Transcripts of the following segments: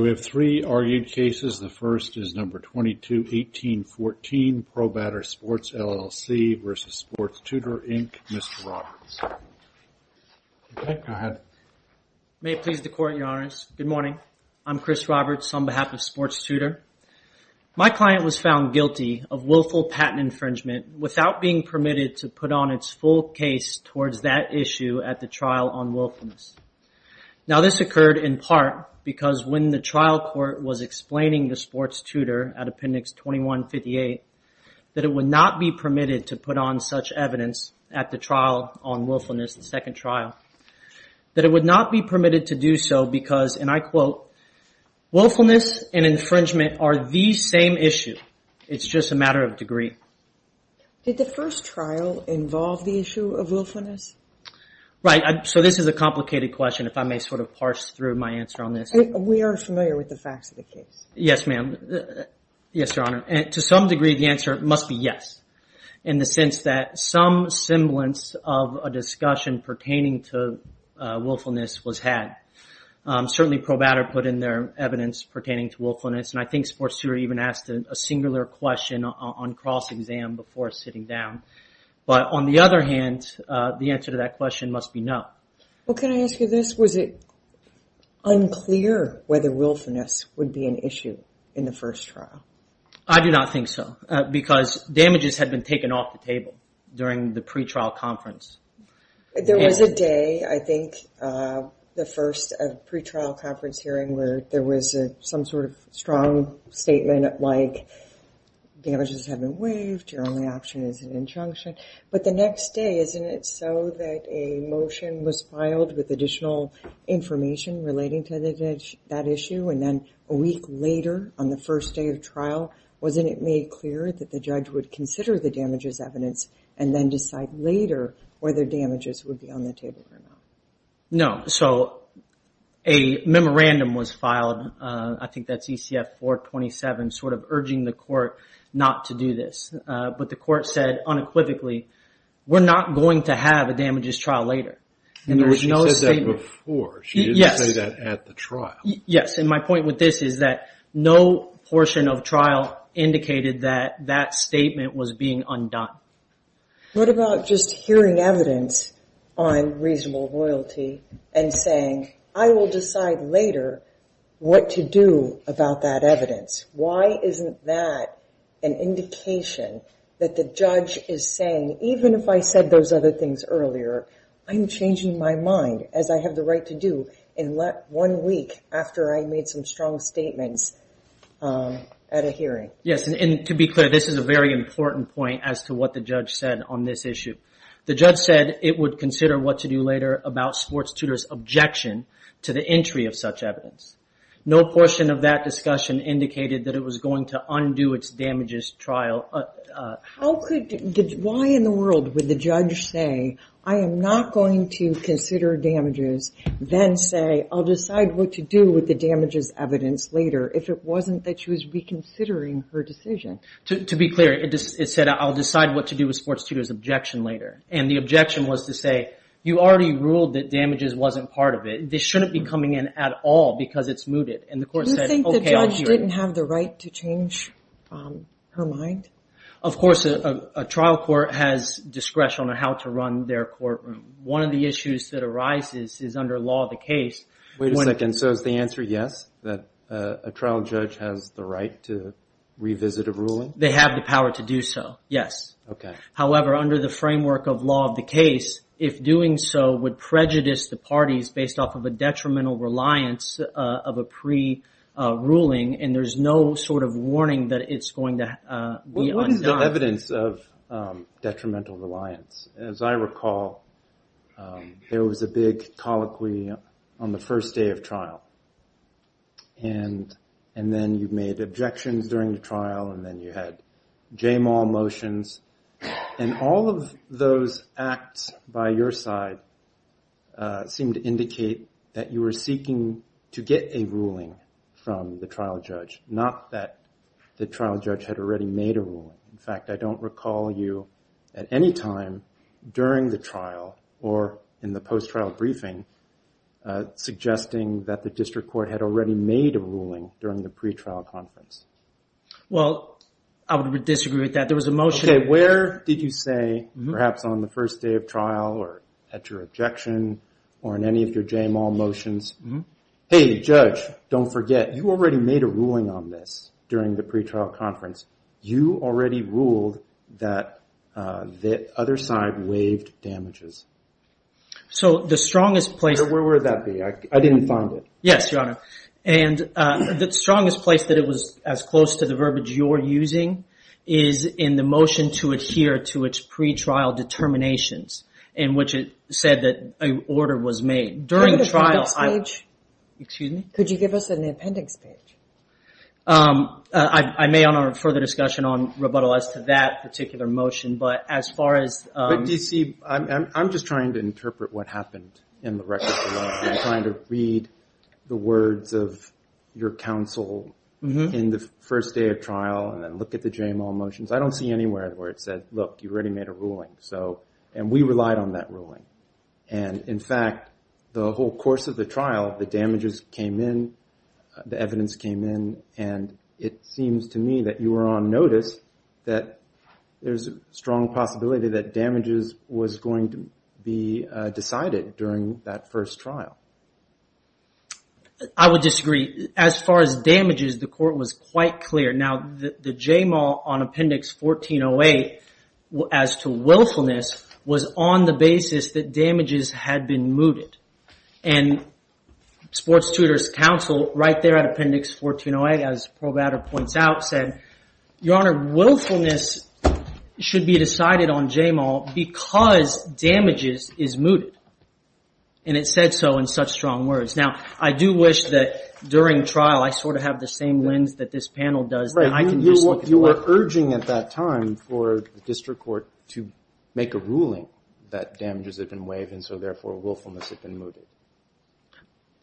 We have three argued cases. The first is number 221814, ProBatter Sports, LLC v. Sports Tutor, Inc., Mr. Roberts. May it please the Court, Your Honors. Good morning. I'm Chris Roberts on behalf of Sports Tutor. My client was found guilty of willful patent infringement without being permitted to put on its full case towards that issue at the trial on willfulness. Now, this occurred in part because when the trial court was explaining to Sports Tutor at Appendix 2158, that it would not be permitted to put on such evidence at the trial on willfulness, the second trial, that it would not be permitted to do so because, and I quote, willfulness and infringement are the same issue. It's just a matter of degree. Did the first trial involve the issue of willfulness? Right. So this is a complicated question, if I may sort of parse through my answer on this. We are familiar with the facts of the case. Yes, ma'am. Yes, Your Honor. To some degree, the answer must be yes, in the sense that some semblance of a discussion pertaining to willfulness was had. Certainly, ProBatter put in their evidence pertaining to willfulness, and I think Sports Tutor even asked a singular question on cross-exam before sitting down. But on the other hand, the answer to that question must be no. Well, can I ask you this? Was it unclear whether willfulness would be an issue in the first trial? I do not think so because damages had been taken off the table during the pretrial conference. There was a day, I think, the first pretrial conference hearing where there was some sort of strong statement like, damages have been waived, your only option is an injunction. But the next day, isn't it so that a motion was filed with additional information relating to that issue, and then a week later on the first day of trial, wasn't it made clear that the judge would consider the damages evidence and then decide later whether damages would be on the table or not? No. So a memorandum was filed, I think that's ECF 427, sort of urging the court not to do this. But the court said unequivocally, we're not going to have a damages trial later. And there was no statement. She said that before. Yes. She didn't say that at the trial. Yes, and my point with this is that no portion of trial indicated that that statement was being undone. What about just hearing evidence on reasonable royalty and saying, I will decide later what to do about that evidence? Why isn't that an indication that the judge is saying, even if I said those other things earlier, I'm changing my mind, as I have the right to do, and let one week after I made some strong statements at a hearing. Yes, and to be clear, this is a very important point as to what the judge said on this issue. The judge said it would consider what to do later about sports tutor's objection to the entry of such evidence. No portion of that discussion indicated that it was going to undo its damages trial. Why in the world would the judge say, I am not going to consider damages, then say, I'll decide what to do with the damages evidence later, if it wasn't that she was reconsidering her decision? To be clear, it said, I'll decide what to do with sports tutor's objection later. And the objection was to say, you already ruled that damages wasn't part of it. This shouldn't be coming in at all because it's mooted. Do you think the judge didn't have the right to change her mind? Of course, a trial court has discretion on how to run their courtroom. One of the issues that arises is under law of the case. Wait a second, so is the answer yes, that a trial judge has the right to revisit a ruling? They have the power to do so, yes. However, under the framework of law of the case, if doing so would prejudice the parties based off of a detrimental reliance of a pre-ruling, and there's no sort of warning that it's going to be undone. What is the evidence of detrimental reliance? As I recall, there was a big colloquy on the first day of trial. And then you made objections during the trial, and then you had j-mal motions. And all of those acts by your side seemed to indicate that you were seeking to get a ruling from the trial judge, not that the trial judge had already made a ruling. In fact, I don't recall you at any time during the trial or in the post-trial briefing suggesting that the district court had already made a ruling during the pretrial conference. Well, I would disagree with that. There was a motion. Okay, where did you say, perhaps on the first day of trial or at your objection or in any of your j-mal motions, hey, judge, don't forget, you already made a ruling on this during the pretrial conference. You already ruled that the other side waived damages. So the strongest place... Where would that be? I didn't find it. Yes, Your Honor. And the strongest place that it was as close to the verbiage you're using is in the motion to adhere to its pretrial determinations, in which it said that an order was made. During the trial... Could you give us an appendix page? Excuse me? Could you give us an appendix page? I may honor further discussion on rebuttal as to that particular motion, but as far as... I'm just trying to interpret what happened in the record. I'm trying to read the words of your counsel in the first day of trial and then look at the j-mal motions. I don't see anywhere where it said, look, you already made a ruling. And we relied on that ruling. And in fact, the whole course of the trial, the damages came in, the evidence came in, and it seems to me that you were on notice that there's a strong possibility that damages was going to be decided during that first trial. I would disagree. As far as damages, the court was quite clear. Now, the j-mal on Appendix 1408 as to willfulness was on the basis that damages had been mooted. And Sports Tutors' Counsel, right there at Appendix 1408, as Pro Batter points out, said, Your Honor, willfulness should be decided on j-mal because damages is mooted. And it said so in such strong words. Now, I do wish that during trial I sort of have the same lens that this panel does. You were urging at that time for the district court to make a ruling that damages had been waived and so, therefore, willfulness had been mooted.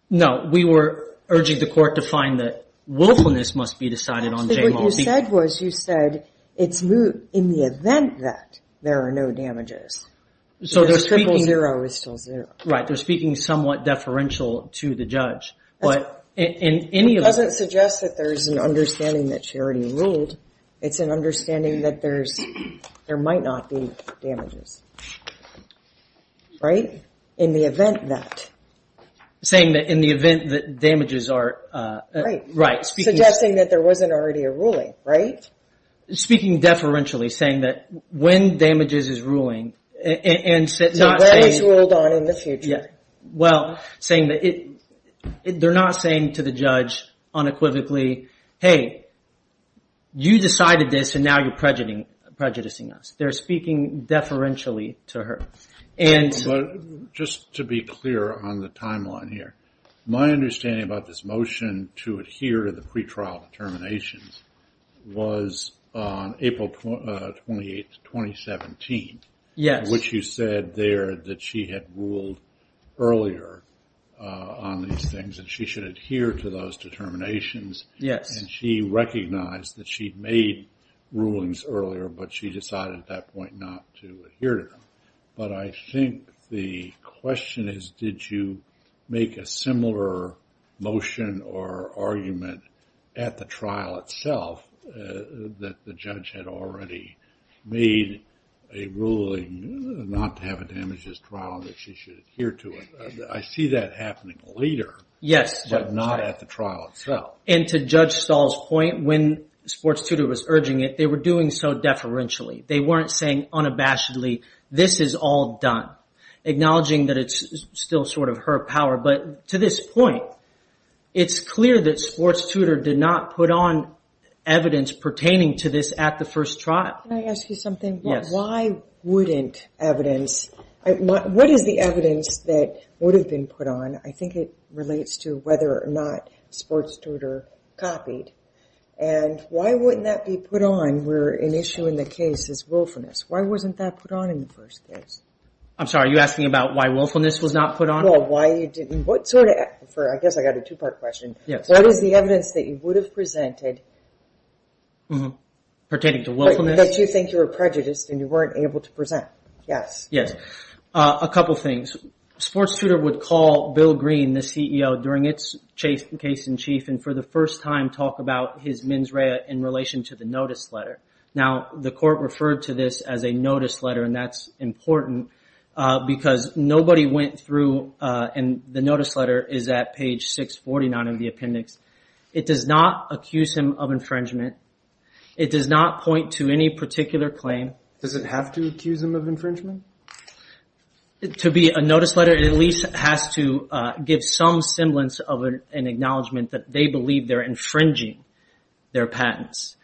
No. We were urging the court to find that willfulness must be decided on j-mal. Actually, what you said was you said it's moot in the event that there are no damages. The triple zero is still zero. Right. They're speaking somewhat deferential to the judge. It doesn't suggest that there's an understanding that she already ruled. It's an understanding that there might not be damages. Right? In the event that. Saying that in the event that damages are. Right. Suggesting that there wasn't already a ruling, right? Speaking deferentially, saying that when damages is ruling and not saying. When it's ruled on in the future. Well, saying that they're not saying to the judge unequivocally, Hey, you decided this and now you're prejudicing us. They're speaking deferentially to her. Just to be clear on the timeline here. My understanding about this motion to adhere to the pre-trial determinations was on April 28th, 2017. Yes. Which you said there that she had ruled earlier on these things, and she should adhere to those determinations. Yes. And she recognized that she'd made rulings earlier, but she decided at that point not to adhere to them. But I think the question is did you make a similar motion or argument at the trial itself that the judge had already made a ruling not to have a damages trial and that she should adhere to it? I see that happening later. Yes. But not at the trial itself. And to Judge Stahl's point, when sports tutor was urging it, they were doing so deferentially. They weren't saying unabashedly, this is all done. Acknowledging that it's still sort of her power. But to this point, it's clear that sports tutor did not put on evidence pertaining to this at the first trial. Can I ask you something? Yes. Why wouldn't evidence, what is the evidence that would have been put on? I think it relates to whether or not sports tutor copied. And why wouldn't that be put on? And where an issue in the case is willfulness. Why wasn't that put on in the first case? I'm sorry, are you asking about why willfulness was not put on? Well, why you didn't, what sort of, I guess I got a two-part question. Yes. What is the evidence that you would have presented? Pertaining to willfulness? That you think you were prejudiced and you weren't able to present. Yes. Yes. A couple things. Sports tutor would call Bill Green, the CEO, during its case in chief and for the first time talk about his mens rea in relation to the notice letter. Now, the court referred to this as a notice letter, and that's important because nobody went through, and the notice letter is at page 649 of the appendix. It does not accuse him of infringement. It does not point to any particular claim. Does it have to accuse him of infringement? To be a notice letter, it at least has to give some semblance of an acknowledgement that they believe they're infringing their patents.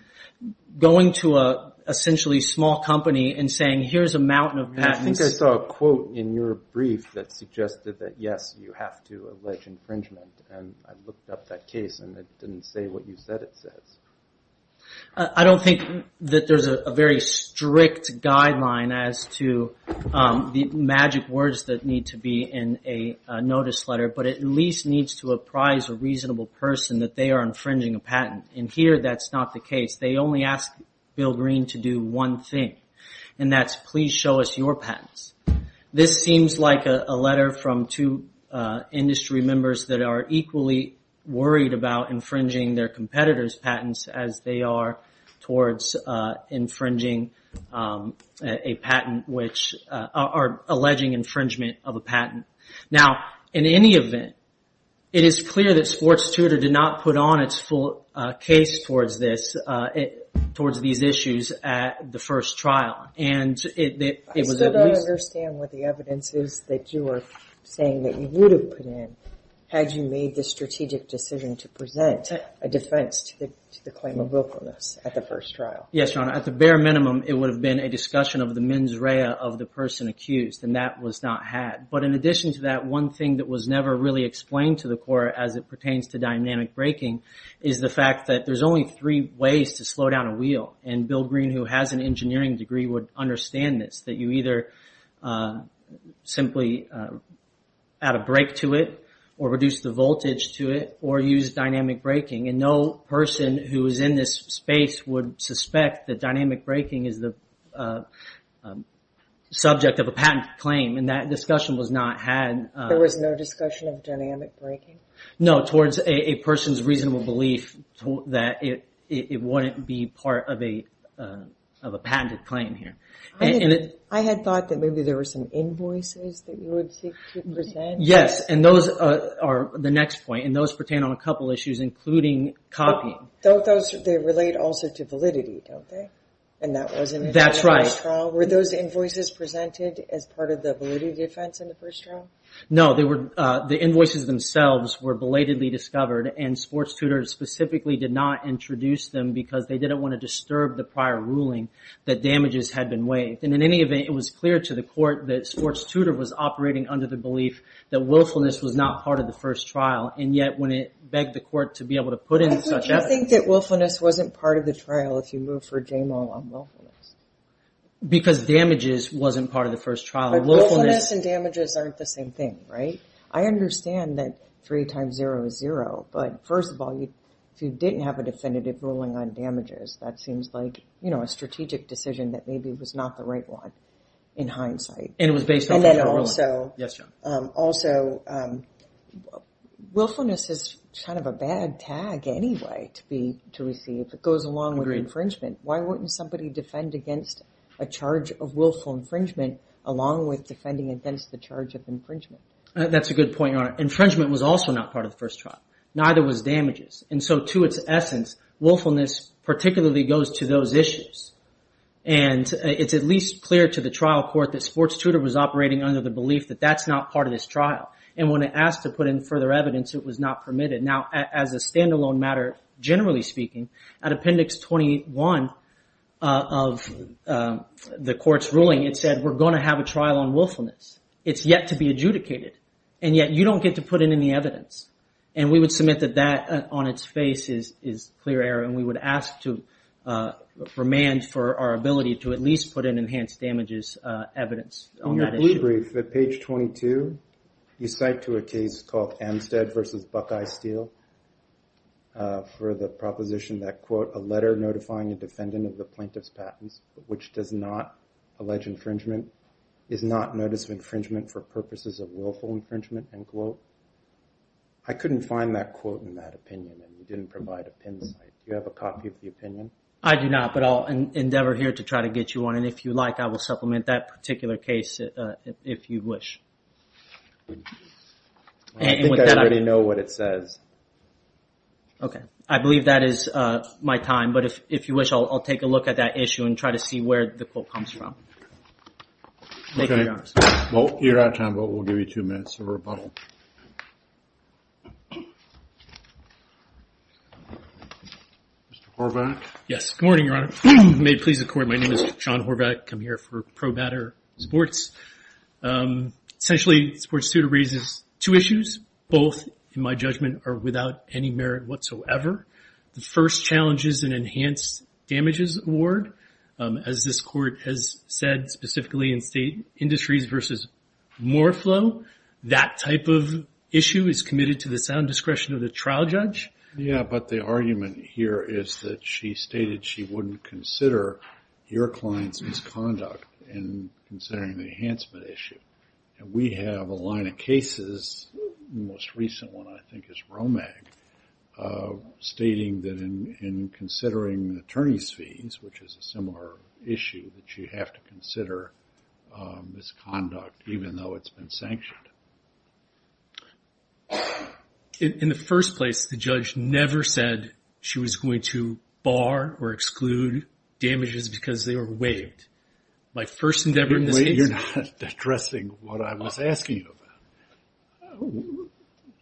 Going to a essentially small company and saying, here's a mountain of patents. I think I saw a quote in your brief that suggested that, yes, you have to allege infringement, and I looked up that case and it didn't say what you said it says. I don't think that there's a very strict guideline as to the magic words that need to be in a notice letter, but it at least needs to apprise a reasonable person that they are infringing a patent, and here that's not the case. They only ask Bill Green to do one thing, and that's please show us your patents. This seems like a letter from two industry members that are equally worried about infringing their competitors' patents, as they are towards infringing a patent, or alleging infringement of a patent. Now, in any event, it is clear that Sports Tutor did not put on its full case towards these issues at the first trial. I still don't understand what the evidence is that you are saying that you would have put in had you made the strategic decision to present a defense to the claim of willfulness at the first trial. Yes, Your Honor. At the bare minimum, it would have been a discussion of the mens rea of the person accused, and that was not had. But in addition to that, one thing that was never really explained to the court as it pertains to dynamic breaking is the fact that there's only three ways to slow down a wheel, and Bill Green, who has an engineering degree, would understand this, that you either simply add a brake to it, or reduce the voltage to it, or use dynamic braking. And no person who is in this space would suspect that dynamic braking is the subject of a patent claim, and that discussion was not had. There was no discussion of dynamic braking? No, towards a person's reasonable belief that it wouldn't be part of a patented claim here. I had thought that maybe there were some invoices that you would seek to present. Yes, and those are the next point, and those pertain on a couple issues, including copying. Don't those relate also to validity, don't they? That's right. Were those invoices presented as part of the validity defense in the first trial? No, the invoices themselves were belatedly discovered, and sports tutors specifically did not introduce them because they didn't want to disturb the prior ruling that damages had been waived. And in any event, it was clear to the court that sports tutor was operating under the belief that willfulness was not part of the first trial, and yet when it begged the court to be able to put in such evidence... I think that willfulness wasn't part of the trial if you move for JMO on willfulness. Because damages wasn't part of the first trial. But willfulness and damages aren't the same thing, right? I understand that three times zero is zero, but first of all, if you didn't have a definitive ruling on damages, that seems like a strategic decision that maybe was not the right one in hindsight. And it was based off of your ruling. And then also, willfulness is kind of a bad tag anyway to receive. It goes along with infringement. Why wouldn't somebody defend against a charge of willful infringement along with defending against the charge of infringement? That's a good point, Your Honor. Infringement was also not part of the first trial. Neither was damages. And so to its essence, willfulness particularly goes to those issues. And it's at least clear to the trial court that sports tutor was operating under the belief that that's not part of this trial. And when it asked to put in further evidence, it was not permitted. Now, as a standalone matter, generally speaking, at Appendix 21 of the court's ruling, it said we're going to have a trial on willfulness. It's yet to be adjudicated, and yet you don't get to put in any evidence. And we would submit that that on its face is clear error, and we would ask to remand for our ability to at least put in enhanced damages evidence on that issue. In your plea brief at page 22, you cite to a case called Amstead v. Buckeye Steel for the proposition that, quote, a letter notifying a defendant of the plaintiff's patents which does not allege infringement is not notice of infringement for purposes of willful infringement, end quote. I couldn't find that quote in that opinion, and you didn't provide a pin site. Do you have a copy of the opinion? I do not, but I'll endeavor here to try to get you one. And if you like, I will supplement that particular case if you wish. I think I already know what it says. Okay. I believe that is my time, but if you wish, I'll take a look at that issue and try to see where the quote comes from. Okay. Well, you're out of time, but we'll give you two minutes of rebuttal. Mr. Horvath? Yes. Good morning, Your Honor. May it please the Court, my name is John Horvath. I come here for ProBatter Sports. Essentially, sports suit raises two issues, both, in my judgment, are without any merit whatsoever. The first challenge is an enhanced damages award. As this Court has said specifically in state industries versus more flow, that type of issue is committed to the sound discretion of the trial judge. Yes, but the argument here is that she stated she wouldn't consider your client's misconduct in considering the enhancement issue. We have a line of cases, the most recent one I think is Romag, stating that in considering attorney's fees, which is a similar issue, that you have to consider misconduct even though it's been sanctioned. In the first place, the judge never said she was going to bar or exclude damages because they were waived. Wait, you're not addressing what I was asking you about.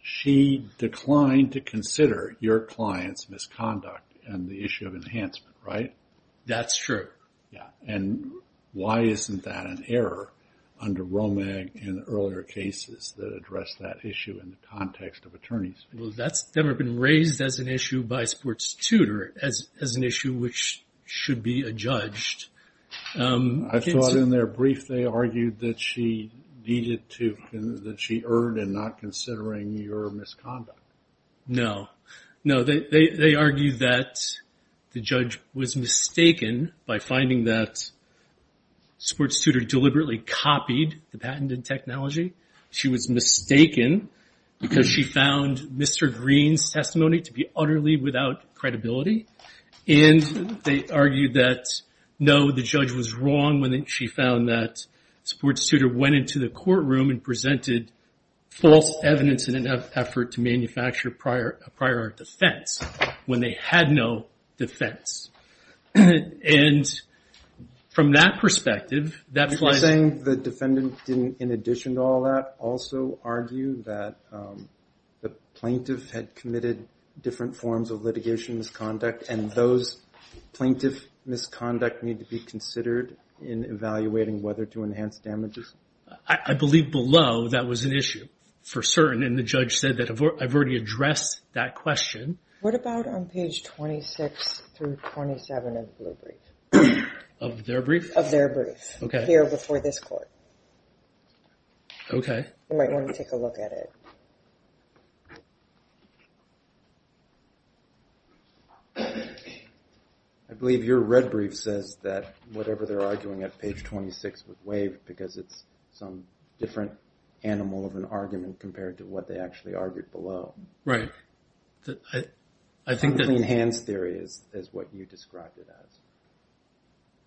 She declined to consider your client's misconduct and the issue of enhancement, right? That's true. Yeah, and why isn't that an error under Romag in earlier cases that address that issue in the context of attorney's fees? Well, that's never been raised as an issue by a sports tutor, as an issue which should be adjudged. I thought in their brief they argued that she needed to, that she erred in not considering your misconduct. No. No, they argued that the judge was mistaken by finding that sports tutor deliberately copied the patented technology. She was mistaken because she found Mr. Green's testimony to be utterly without credibility, and they argued that, no, the judge was wrong when she found that sports tutor went into the courtroom and presented false evidence in an effort to manufacture a prior defense when they had no defense. And from that perspective, that's why- You're saying the defendant didn't, in addition to all that, also argue that the plaintiff had committed different forms of litigation, misconduct, and those plaintiff misconduct need to be considered in evaluating whether to enhance damages? I believe below that was an issue for certain, and the judge said that I've already addressed that question. What about on page 26 through 27 of the brief? Of their brief? Of their brief. Okay. It's there before this court. Okay. You might want to take a look at it. I believe your red brief says that whatever they're arguing at page 26 was waived because it's some different animal of an argument compared to what they actually argued below. Right. I think that- Clean hands theory is what you described it as.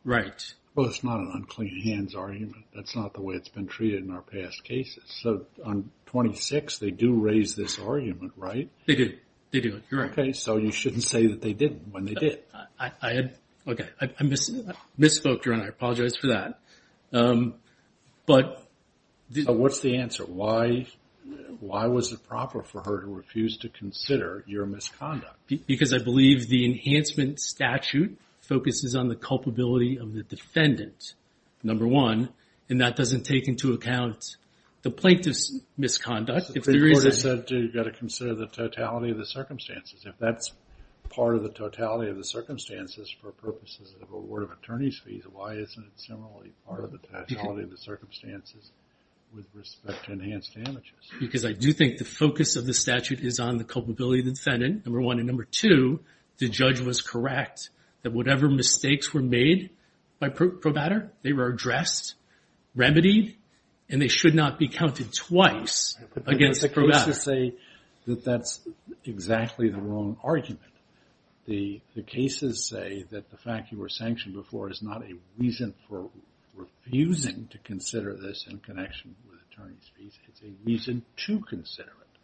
Right. Well, it's not an unclean hands argument. That's not the way it's been treated in our past cases. So on 26, they do raise this argument, right? They do. They do. You're right. Okay. So you shouldn't say that they didn't when they did. Okay. I misspoke, Your Honor. I apologize for that. But- What's the answer? Why was it proper for her to refuse to consider your misconduct? Because I believe the enhancement statute focuses on the culpability of the defendant, number one, and that doesn't take into account the plaintiff's misconduct. The court has said, too, you've got to consider the totality of the circumstances. If that's part of the totality of the circumstances for purposes of award of attorney's fees, why isn't it similarly part of the totality of the circumstances with respect to enhanced damages? And number two, the judge was correct that whatever mistakes were made by probator, they were addressed, remedied, and they should not be counted twice against probator. That's exactly the wrong argument. The cases say that the fact you were sanctioned before is not a reason for refusing to consider this in connection with attorney's fees. It's a reason to consider it.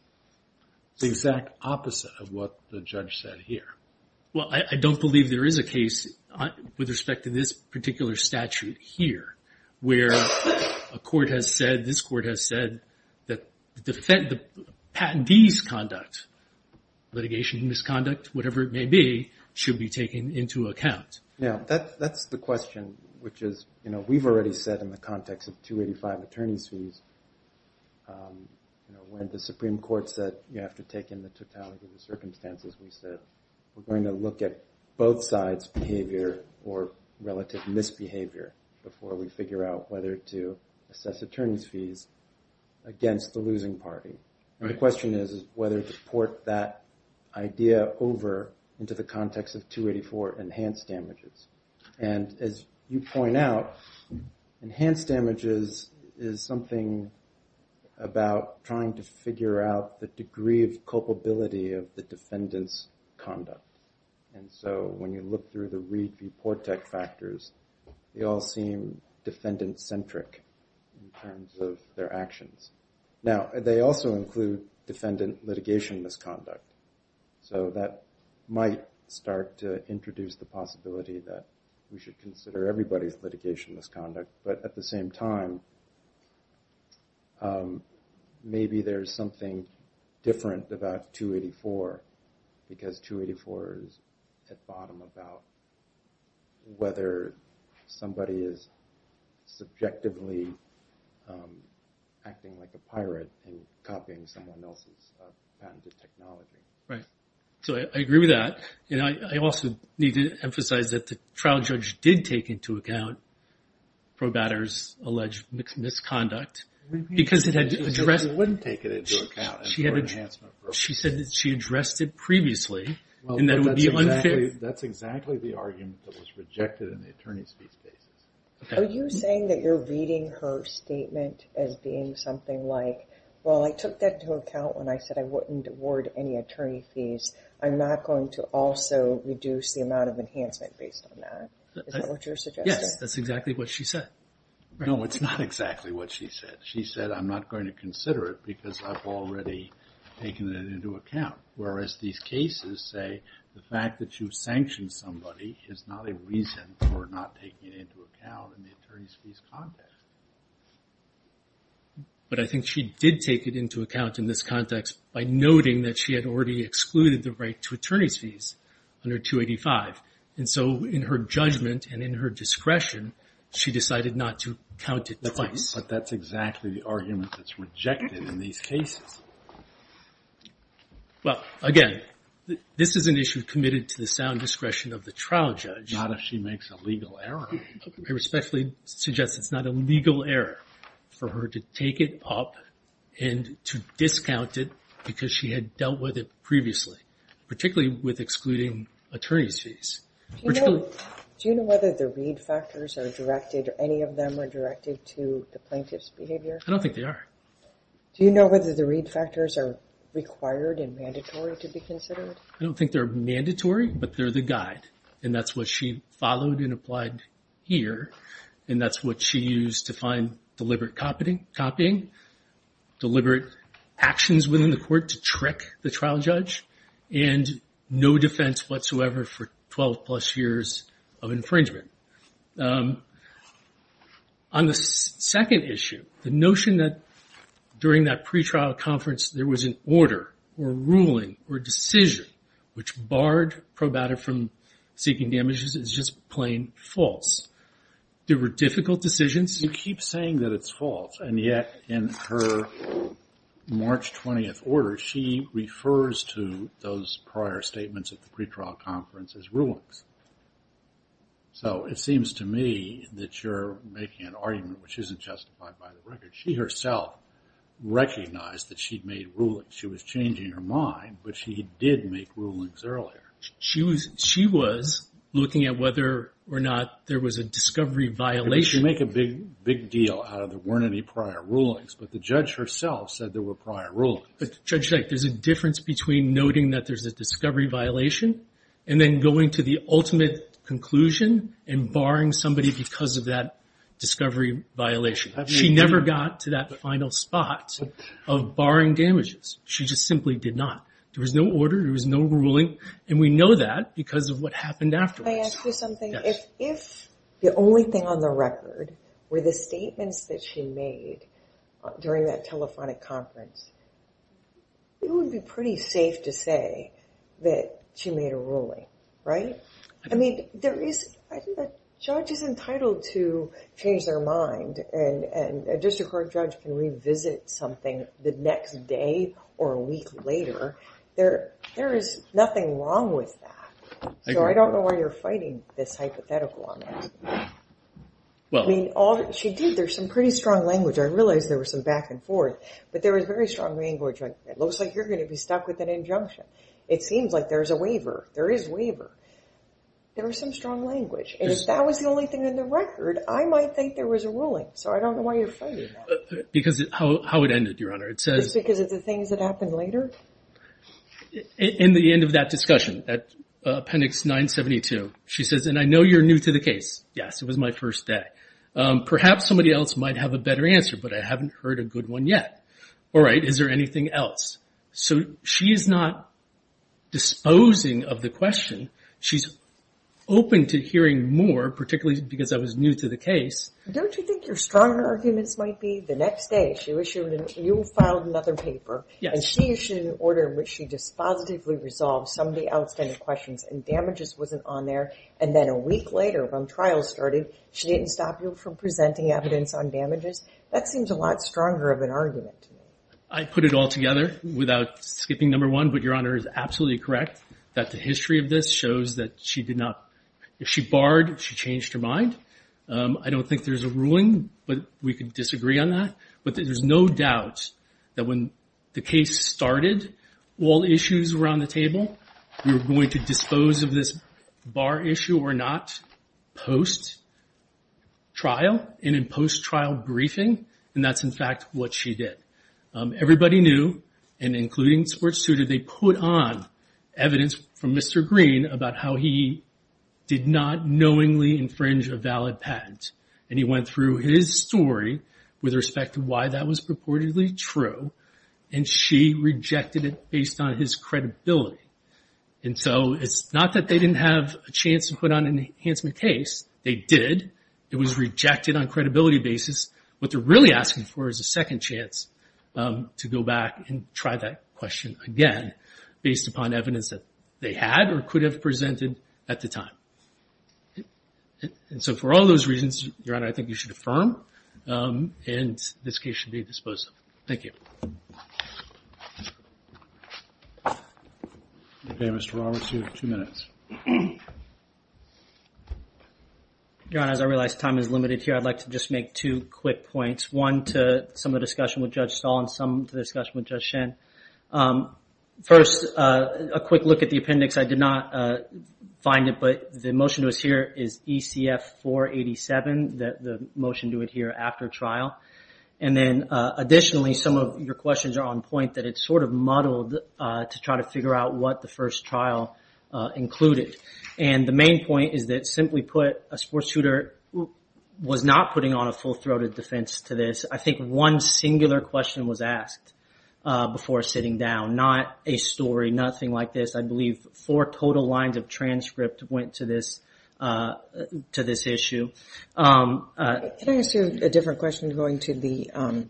It's the exact opposite of what the judge said here. Well, I don't believe there is a case with respect to this particular statute here where a court has said, this court has said, that the patentee's conduct, litigation misconduct, whatever it may be, should be taken into account. Yeah, that's the question, which is we've already said in the context of 285 courts that you have to take in the totality of the circumstances we said. We're going to look at both sides' behavior or relative misbehavior before we figure out whether to assess attorney's fees against the losing party. And the question is whether to port that idea over into the context of 284 enhanced damages. And as you point out, enhanced damages is something about trying to figure out the degree of culpability of the defendant's conduct. And so when you look through the Reid v. Portek factors, they all seem defendant-centric in terms of their actions. Now, they also include defendant litigation misconduct. So that might start to introduce the possibility that we should consider everybody's litigation misconduct. But at the same time, maybe there's something different about 284 because 284 is at bottom about whether somebody is subjectively acting like a pirate and copying someone else's patented technology. Right. So I agree with that. And I also need to emphasize that the trial judge did take into account Probatter's alleged misconduct because it had addressed... She wouldn't take it into account. She said that she addressed it previously and that it would be unfit... That's exactly the argument that was rejected in the attorney's fees basis. Are you saying that you're reading her statement as being something like, well, I took that into account when I said I wouldn't award any attorney fees. I'm not going to also reduce the amount of enhancement based on that. Is that what you're suggesting? Yes, that's exactly what she said. No, it's not exactly what she said. She said, I'm not going to consider it because I've already taken it into account, whereas these cases say the fact that you've sanctioned somebody is not a reason for not taking it into account in the attorney's fees context. But I think she did take it into account in this context by noting that she had already excluded the right to attorney's fees under 285. And so in her judgment and in her discretion, she decided not to count it twice. But that's exactly the argument that's rejected in these cases. Well, again, this is an issue committed to the sound discretion of the trial judge. Not if she makes a legal error. I respectfully suggest it's not a legal error for her to take it up and to deal with it previously, particularly with excluding attorney's fees. Do you know whether the read factors are directed or any of them are directed to the plaintiff's behavior? I don't think they are. Do you know whether the read factors are required and mandatory to be considered? I don't think they're mandatory, but they're the guide. And that's what she followed and applied here. And that's what she used to find deliberate copying, deliberate actions within the court to trick the trial judge, and no defense whatsoever for 12 plus years of infringement. On the second issue, the notion that during that pretrial conference there was an order or a ruling or a decision which barred probata from seeking damages is just plain false. There were difficult decisions. You keep saying that it's false, and yet in her March 20th order she refers to those prior statements at the pretrial conference as rulings. So it seems to me that you're making an argument which isn't justified by the record. She herself recognized that she'd made rulings. She was changing her mind, but she did make rulings earlier. She was looking at whether or not there was a discovery violation. She made a big deal out of there weren't any prior rulings. But the judge herself said there were prior rulings. Judge Jake, there's a difference between noting that there's a discovery violation and then going to the ultimate conclusion and barring somebody because of that discovery violation. She never got to that final spot of barring damages. She just simply did not. There was no order. There was no ruling. And we know that because of what happened afterwards. Can I ask you something? Yes. If the only thing on the record were the statements that she made during that telephonic conference, it would be pretty safe to say that she made a ruling, right? I mean, I think the judge is entitled to change their mind, and a district court judge can revisit something the next day or a week later. There is nothing wrong with that. So I don't know why you're fighting this hypothetical on that. She did. There's some pretty strong language. I realize there was some back and forth, but there was very strong language. It looks like you're going to be stuck with an injunction. It seems like there's a waiver. There is a waiver. There was some strong language. If that was the only thing on the record, I might think there was a ruling. So I don't know why you're fighting that. Because how it ended, Your Honor. Just because of the things that happened later? In the end of that discussion, Appendix 972, she says, and I know you're new to the case. Yes, it was my first day. Perhaps somebody else might have a better answer, but I haven't heard a good one yet. All right, is there anything else? So she is not disposing of the question. She's open to hearing more, particularly because I was new to the case. Don't you think your stronger arguments might be the next day she issued another paper and she issued an order in which she dispositively resolved some of the outstanding questions and damages wasn't on there, and then a week later when trial started, she didn't stop you from presenting evidence on damages? That seems a lot stronger of an argument to me. I'd put it all together without skipping number one, but Your Honor is absolutely correct that the history of this shows that she did not – if she barred, she changed her mind. I don't think there's a ruling, but we could disagree on that. But there's no doubt that when the case started, all issues were on the table. We were going to dispose of this bar issue or not post-trial and in post-trial briefing, and that's, in fact, what she did. Everybody knew, and including the sports tutor, they put on evidence from Mr. Green about how he did not knowingly infringe a valid patent, and he went through his story with respect to why that was purportedly true, and she rejected it based on his credibility. And so it's not that they didn't have a chance to put on an enhancement case. They did. It was rejected on a credibility basis. What they're really asking for is a second chance to go back and try that question again based upon evidence that they had or could have presented at the time. And so for all those reasons, Your Honor, I think you should affirm, and this case should be disposed of. Thank you. Okay, Mr. Roberts, you have two minutes. Your Honor, as I realize time is limited here, I'd like to just make two quick points, one to some of the discussion with Judge Stahl and some to the discussion with Judge Shen. First, a quick look at the appendix. I did not find it, but the motion to us here is ECF-487, the motion to adhere after trial. And then additionally, some of your questions are on point, that it's sort of muddled to try to figure out what the first trial included. And the main point is that simply put, a sports tutor was not putting on a full-throated defense to this. I think one singular question was asked before sitting down, not a story, nothing like this. I believe four total lines of transcript went to this issue. Can I ask you a different question going to the ‑‑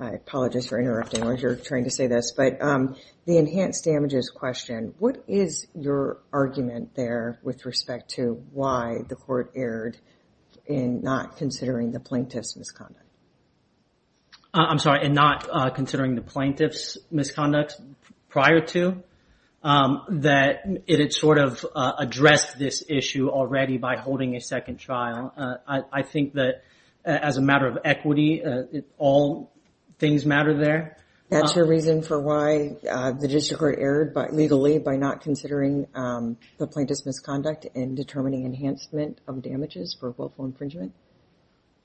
I apologize for interrupting while you're trying to say this, but the enhanced damages question, what is your argument there with respect to why the court erred in not I'm sorry, in not considering the plaintiff's misconduct prior to, that it had sort of addressed this issue already by holding a second trial? I think that as a matter of equity, all things matter there. That's your reason for why the district court erred legally by not considering the plaintiff's misconduct in determining enhancement of damages for willful infringement?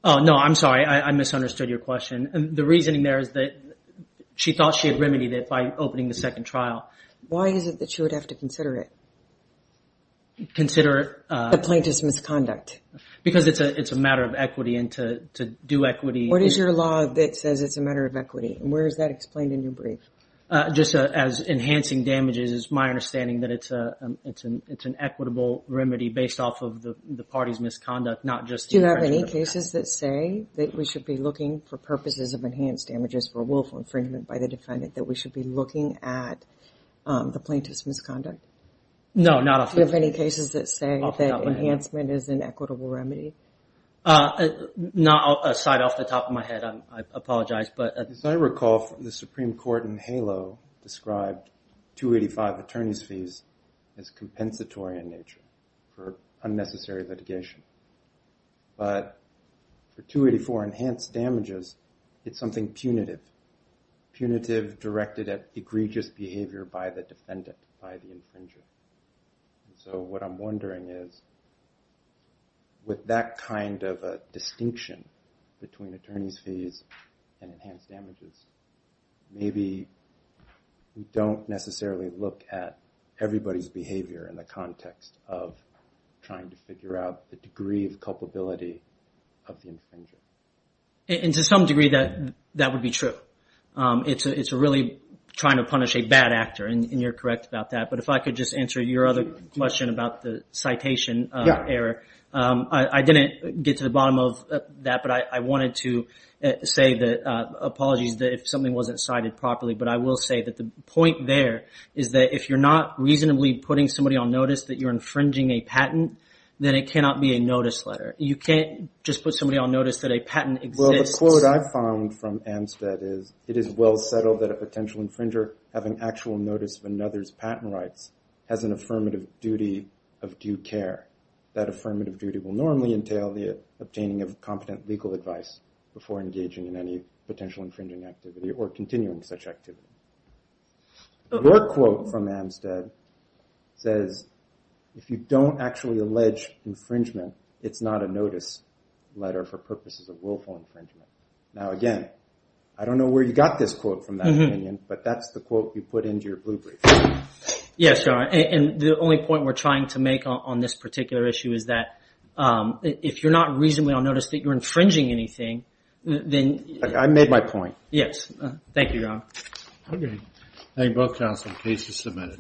No, I'm sorry. I misunderstood your question. The reasoning there is that she thought she had remedied it by opening the second trial. Why is it that she would have to consider it? Consider it? The plaintiff's misconduct. Because it's a matter of equity, and to do equity What is your law that says it's a matter of equity, and where is that explained in your brief? Just as enhancing damages, it's my understanding that it's an equitable remedy based off of the Do you have any cases that say that we should be looking for purposes of enhanced damages for willful infringement by the defendant that we should be looking at the plaintiff's misconduct? No, not off the top of my head. Do you have any cases that say that enhancement is an equitable remedy? Not off the top of my head. I apologize, but As I recall, the Supreme Court in HALO described 285 attorney's fees as compensatory in nature for unnecessary litigation. But for 284 enhanced damages, it's something punitive. Punitive directed at egregious behavior by the defendant, by the infringer. So what I'm wondering is, with that kind of a distinction between attorney's fees and enhanced damages, maybe we don't necessarily look at everybody's behavior in the context of trying to figure out the degree of culpability of the infringer. And to some degree, that would be true. It's really trying to punish a bad actor, and you're correct about that. But if I could just answer your other question about the citation error. I didn't get to the bottom of that, but I wanted to say apologies if something wasn't cited properly. But I will say that the point there is that if you're not reasonably putting somebody on notice that you're infringing a patent, then it cannot be a notice letter. You can't just put somebody on notice that a patent exists. Well, the quote I found from Amstead is, it is well settled that a potential infringer having actual notice of another's patent rights has an affirmative duty of due care. That affirmative duty will normally entail the obtaining of competent legal advice before engaging in any potential infringing activity or continuing such activity. Your quote from Amstead says, if you don't actually allege infringement, it's not a notice letter for purposes of willful infringement. Now again, I don't know where you got this quote from that opinion, but that's the quote you put into your blue brief. Yes, and the only point we're trying to make on this particular issue is that if you're not reasonably on notice that you're infringing anything, then... I made my point. Yes. Thank you, John. Okay. Thank you both, counsel. The case is submitted.